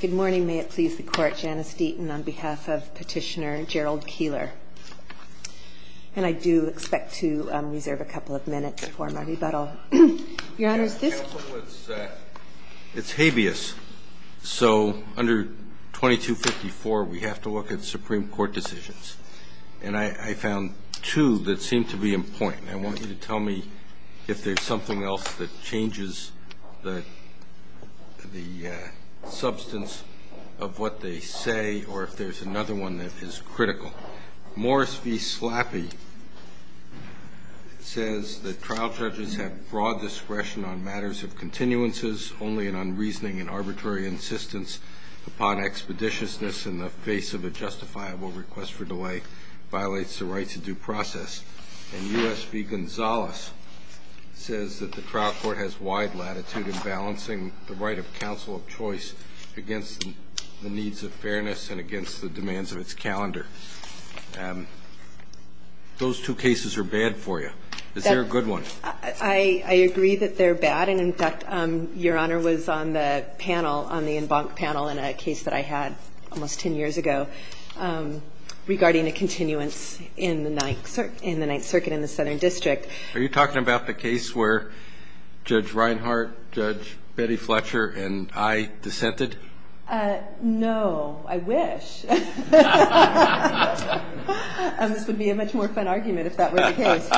Good morning. May it please the court. Janice Deaton on behalf of Petitioner Gerald Keeler. And I do expect to reserve a couple of minutes for my rebuttal. Your Honor, it's habeas. So under 2254, we have to look at Supreme Court decisions. And I found two that seem to be in point. And I want you to tell me if there's something else that changes the substance of what they say or if there's another one that is critical. Morris v. Slappy says that trial judges have broad discretion on matters of continuances, only an unreasoning and arbitrary insistence upon expeditiousness in the face of a justifiable request for delay violates the rights of due process. And U.S. v. Gonzalez says that the trial court has wide latitude in balancing the right of counsel of choice against the needs of fairness and against the demands of its calendar. Those two cases are bad for you. Is there a good one? I agree that they're bad. And, in fact, Your Honor was on the panel, on the en banc panel in a case that I had almost 10 years ago regarding a continuance in the Ninth Circuit in the Southern District. Are you talking about the case where Judge Reinhart, Judge Betty Fletcher, and I dissented? No. I wish. This would be a much more fun argument if that were the case.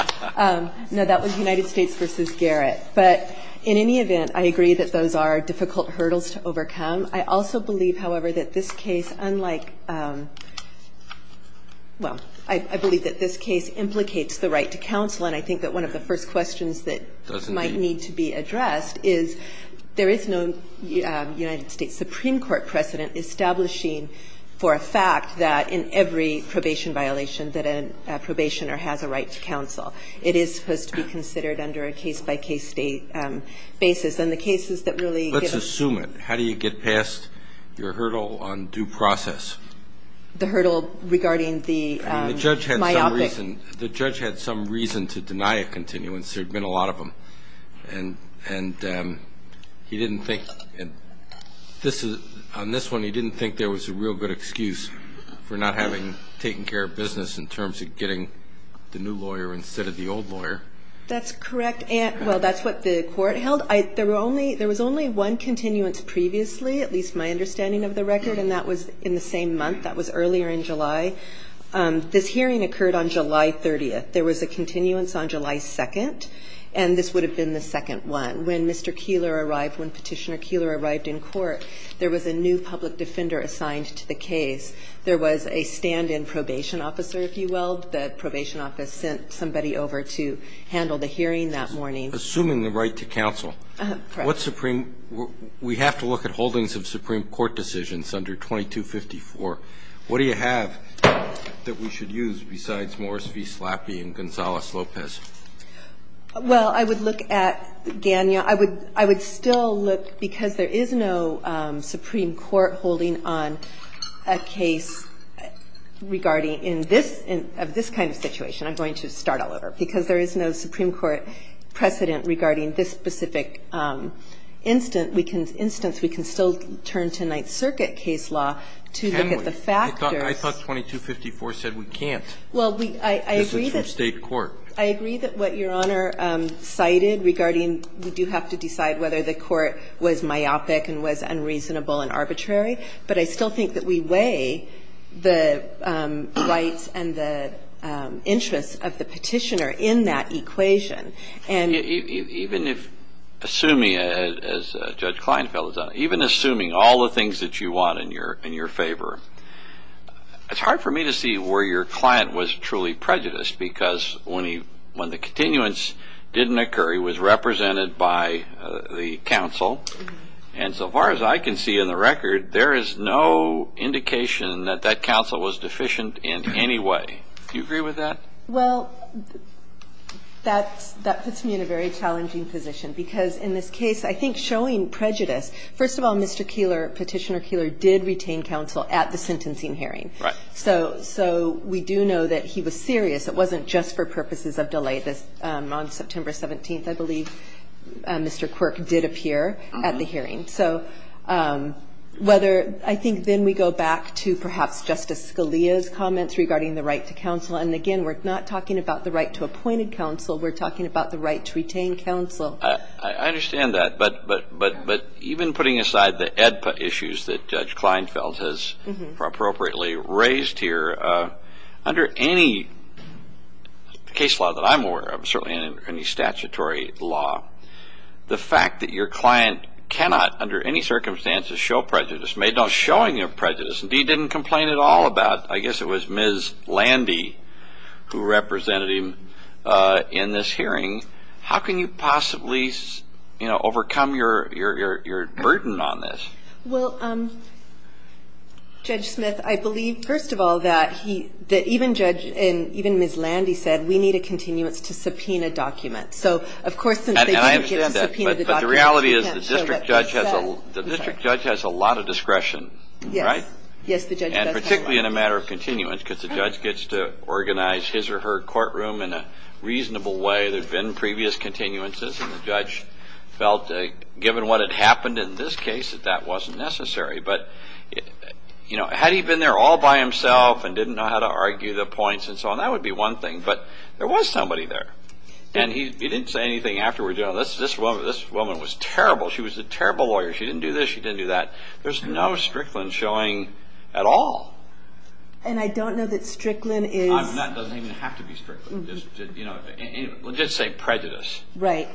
No, that was United States v. Garrett. But in any event, I agree that those are difficult hurdles to overcome. I also believe, however, that this case, unlike – well, I believe that this case implicates the right to counsel. And I think that one of the first questions that might need to be addressed is there is no United States Supreme Court precedent establishing for a fact that in every probation violation that a probationer has a right to counsel. It is supposed to be considered under a case-by-case basis. Let's assume it. How do you get past your hurdle on due process? The hurdle regarding the myopic. The judge had some reason to deny a continuance. There had been a lot of them. On this one, he didn't think there was a real good excuse for not having taken care of business in terms of getting the new lawyer instead of the old lawyer. That's correct. Well, that's what the court held. There was only one continuance previously, at least my understanding of the record, and that was in the same month. That was earlier in July. This hearing occurred on July 30th. There was a continuance on July 2nd, and this would have been the second one. When Mr. Keillor arrived, when Petitioner Keillor arrived in court, there was a new public defender assigned to the case. There was a stand-in probation officer, if you will. The probation officer sent somebody over to handle the hearing that morning. Assuming the right to counsel. Correct. We have to look at holdings of Supreme Court decisions under 2254. What do you have that we should use besides Morris v. Slappy and Gonzales-Lopez? Well, I would look at Gagnon. I would still look, because there is no Supreme Court holding on a case regarding this kind of situation. I'm going to start all over. Because there is no Supreme Court precedent regarding this specific instance, we can still turn to Ninth Circuit case law to look at the factors. Can we? I thought 2254 said we can't. Well, I agree that. This is from State court. I agree that what Your Honor cited regarding we do have to decide whether the court was myopic and was unreasonable and arbitrary, but I still think that we weigh the rights and the interests of the petitioner in that equation. Even assuming, as Judge Kleinfeld has done, even assuming all the things that you want in your favor, it's hard for me to see where your client was truly prejudiced, because when the continuance didn't occur, he was represented by the counsel. And so far as I can see in the record, there is no indication that that counsel was deficient in any way. Do you agree with that? Well, that puts me in a very challenging position, because in this case, I think showing prejudice, first of all, Mr. Keillor, Petitioner Keillor, did retain counsel at the sentencing hearing. Right. So we do know that he was serious. It wasn't just for purposes of delight. So I think then we go back to perhaps Justice Scalia's comments regarding the right to counsel. And, again, we're not talking about the right to appointed counsel. We're talking about the right to retain counsel. I understand that. But even putting aside the AEDPA issues that Judge Kleinfeld has appropriately raised here, under any case law that I'm aware of, certainly any statutory law, the fact that your client cannot under any circumstances show prejudice, made no showing of prejudice, and he didn't complain at all about I guess it was Ms. Landy who represented him in this hearing, how can you possibly overcome your burden on this? Well, Judge Smith, I believe, first of all, that even Ms. Landy said, we need a continuance to subpoena documents. And I understand that. But the reality is the district judge has a lot of discretion, right? Yes. Yes, the judge does have a lot. And particularly in a matter of continuance, because the judge gets to organize his or her courtroom in a reasonable way. There's been previous continuances, and the judge felt given what had happened in this case that that wasn't necessary. But, you know, had he been there all by himself and didn't know how to argue the points and so on, that would be one thing. But there was somebody there. And he didn't say anything afterwards. This woman was terrible. She was a terrible lawyer. She didn't do this. She didn't do that. There's no Strickland showing at all. And I don't know that Strickland is... That doesn't even have to be Strickland. We'll just say prejudice. Right.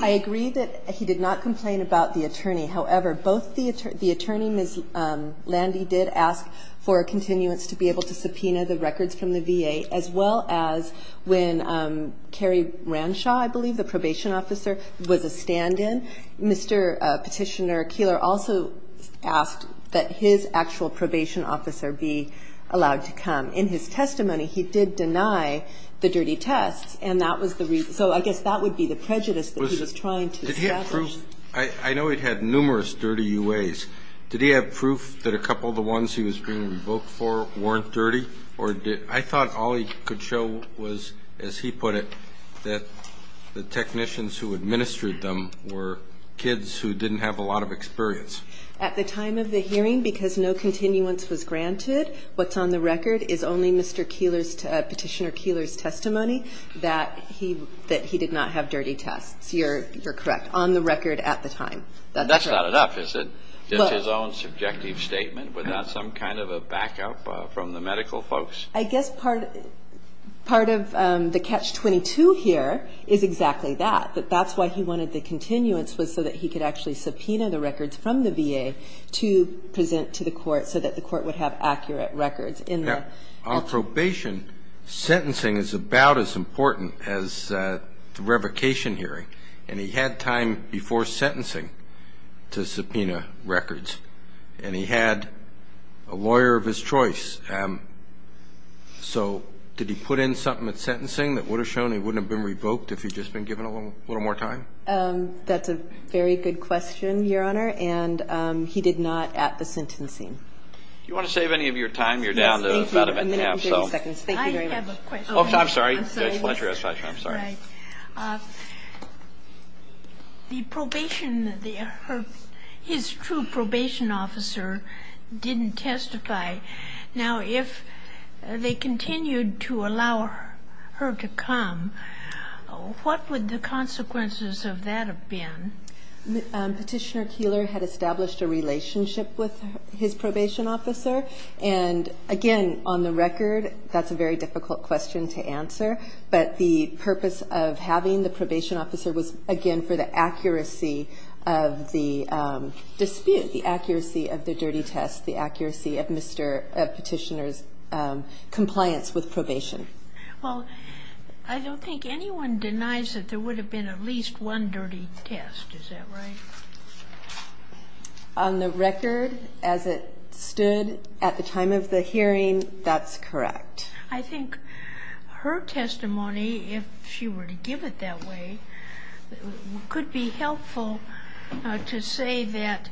I agree that he did not complain about the attorney. However, both the attorney, Ms. Landy, did ask for a continuance to be able to subpoena the records from the VA, as well as when Kerry Ranshaw, I believe, the probation officer, was a stand-in. Mr. Petitioner Keillor also asked that his actual probation officer be allowed to come. In his testimony, he did deny the dirty tests, and that was the reason. So I guess that would be the prejudice that he was trying to establish. Did he have proof? I know he had numerous dirty UAs. Did he have proof that a couple of the ones he was being revoked for weren't dirty? I thought all he could show was, as he put it, that the technicians who administered them were kids who didn't have a lot of experience. At the time of the hearing, because no continuance was granted, what's on the record is only Mr. Petitioner Keillor's testimony that he did not have dirty tests. You're correct. On the record at the time. That's not enough, is it? Just his own subjective statement without some kind of a backup from the medical folks? I guess part of the catch-22 here is exactly that, that that's why he wanted the continuance was so that he could actually subpoena the records from the VA to present to the court so that the court would have accurate records. On probation, sentencing is about as important as the revocation hearing, and he had time before sentencing to subpoena records, and he had a lawyer of his choice. So did he put in something at sentencing that would have shown he wouldn't have been revoked if he'd just been given a little more time? That's a very good question, Your Honor, and he did not at the sentencing. Do you want to save any of your time? You're down to about a minute and a half. I have a question. I'm sorry. The probation, his true probation officer didn't testify. Now, if they continued to allow her to come, what would the consequences of that have been? Petitioner Keillor had established a relationship with his probation officer, and again, on the record, that's a very difficult question to answer. But the purpose of having the probation officer was, again, for the accuracy of the dispute, the accuracy of the dirty test, the accuracy of Petitioner's compliance with probation. Well, I don't think anyone denies that there would have been at least one dirty test. Is that right? On the record, as it stood at the time of the hearing, that's correct. I think her testimony, if she were to give it that way, could be helpful to say that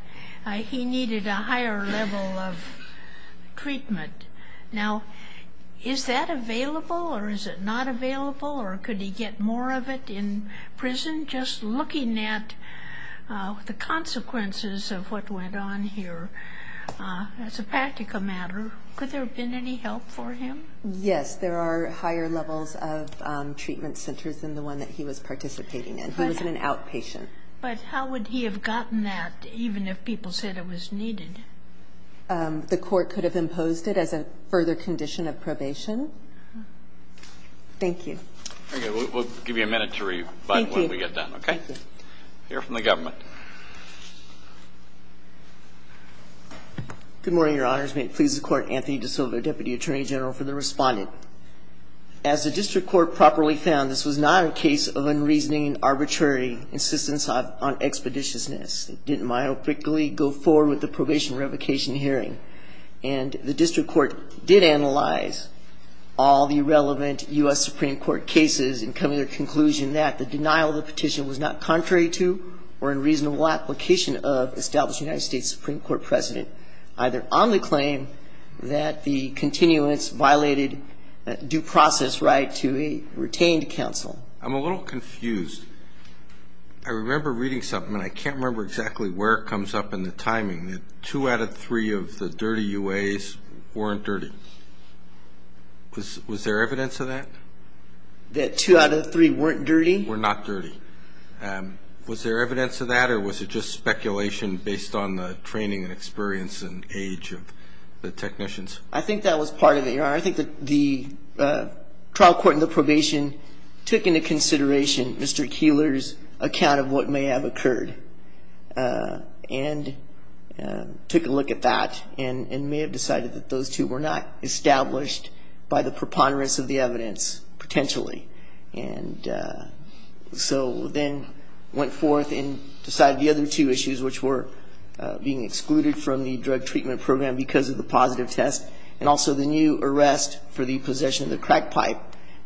he needed a higher level of treatment. Now, is that available or is it not available, or could he get more of it in prison, just looking at the consequences of what went on here? As a practical matter, could there have been any help for him? Yes. There are higher levels of treatment centers than the one that he was participating in. He was an outpatient. But how would he have gotten that, even if people said it was needed? The court could have imposed it as a further condition of probation. Thank you. Okay. We'll give you a minute to rebut when we get done, okay? Thank you. Thank you, Mr. Chief Justice. We'll hear from the government. Good morning, Your Honors. May it please the Court. Anthony DiSilva, Deputy Attorney General, for the respondent. As the district court properly found, this was not a case of unreasoning arbitrary insistence on expeditiousness. It didn't myopically go forward with the probation revocation hearing. And the district court did analyze all the relevant U.S. Supreme Court cases and come to the conclusion that the denial of the petition was not contrary to or in reasonable application of established United States Supreme Court precedent, either on the claim that the continuance violated due process right to a retained counsel. I'm a little confused. I remember reading something, and I can't remember exactly where it comes up in the timing, that two out of three of the dirty UAs weren't dirty. Was there evidence of that? That two out of three weren't dirty? Were not dirty. Was there evidence of that, or was it just speculation based on the training and experience and age of the technicians? I think that was part of it, Your Honor. I think that the trial court and the probation took into consideration Mr. Keillor's account of what may have occurred and took a look at that and may have decided that those two were not established by the preponderance of the evidence, potentially. And so then went forth and decided the other two issues, which were being excluded from the drug treatment program because of the positive test, and also the new arrest for the possession of the crack pipe,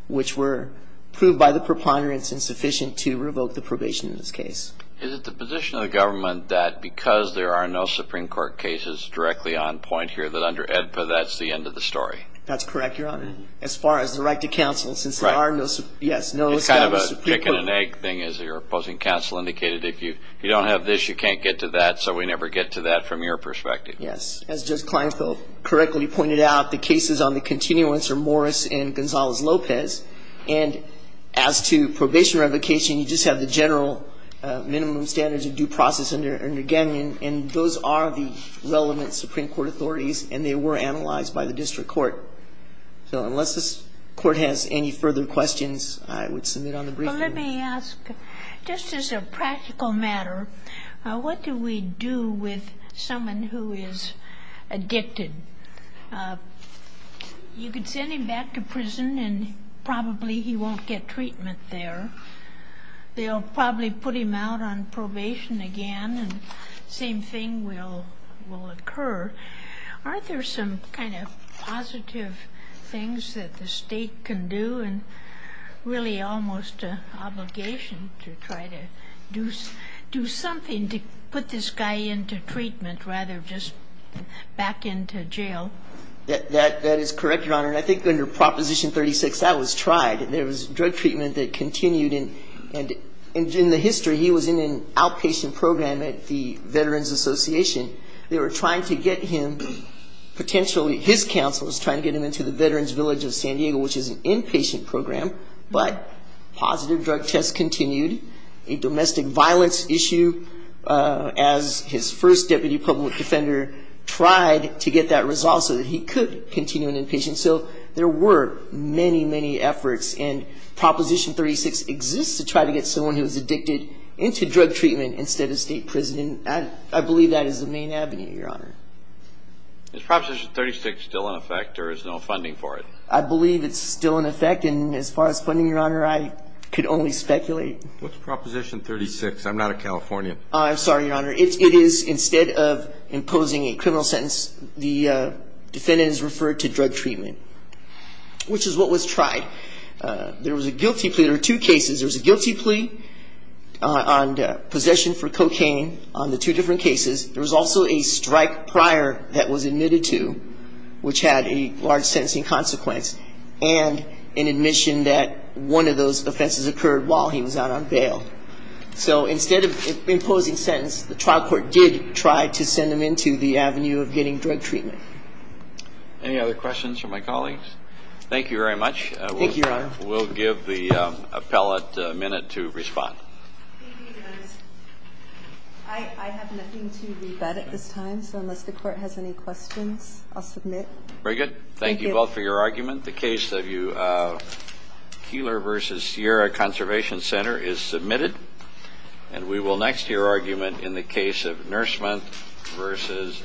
which were proved by the preponderance insufficient to revoke the probation in this case. Is it the position of the government that because there are no Supreme Court cases directly on point here, that under AEDPA that's the end of the story? That's correct, Your Honor, as far as the right to counsel, since there are no, yes, no established Supreme Court. It's kind of a pick-an-egg thing, as your opposing counsel indicated. If you don't have this, you can't get to that, so we never get to that from your perspective. Yes. As Judge Kleinfeld correctly pointed out, the cases on the continuance are Morris and Gonzalez-Lopez, and as to probation revocation, you just have the general minimum standards of due process under Gagnon, and those are the relevant Supreme Court authorities, and they were analyzed by the district court. So unless this court has any further questions, I would submit on the briefing. Well, let me ask, just as a practical matter, what do we do with someone who is addicted? You could send him back to prison, and probably he won't get treatment there. They'll probably put him out on probation again, and the same thing will occur. Aren't there some kind of positive things that the state can do, and really almost an obligation to try to do something to put this guy into treatment, rather than just back into jail? That is correct, Your Honor, and I think under Proposition 36, that was tried. There was drug treatment that continued, and in the history, he was in an outpatient program at the Veterans Association. They were trying to get him, potentially his counsel was trying to get him into the Veterans Village of San Diego, which is an inpatient program, but positive drug tests continued. A domestic violence issue, as his first deputy public defender tried to get that resolved so that he could continue in inpatient. So there were many, many efforts, and Proposition 36 exists to try to get someone who is addicted into drug treatment instead of state prison, and I believe that is the main avenue, Your Honor. Is Proposition 36 still in effect, or is there no funding for it? I believe it's still in effect, and as far as funding, Your Honor, I could only speculate. What's Proposition 36? I'm not a Californian. I'm sorry, Your Honor. It is instead of imposing a criminal sentence, the defendant is referred to drug treatment, which is what was tried. There was a guilty plea. There were two cases. There was a guilty plea on possession for cocaine on the two different cases. There was also a strike prior that was admitted to, which had a large sentencing consequence, and an admission that one of those offenses occurred while he was out on bail. So instead of imposing sentence, the trial court did try to send him into the avenue of getting drug treatment. Any other questions from my colleagues? Thank you very much. Thank you, Your Honor. We'll give the appellate a minute to respond. Thank you, Your Honor. I have nothing to rebut at this time, so unless the court has any questions, I'll submit. Very good. Thank you both for your argument. The case of Keillor v. Sierra Conservation Center is submitted, and we will next hear argument in the case of Nurseman v. Astro.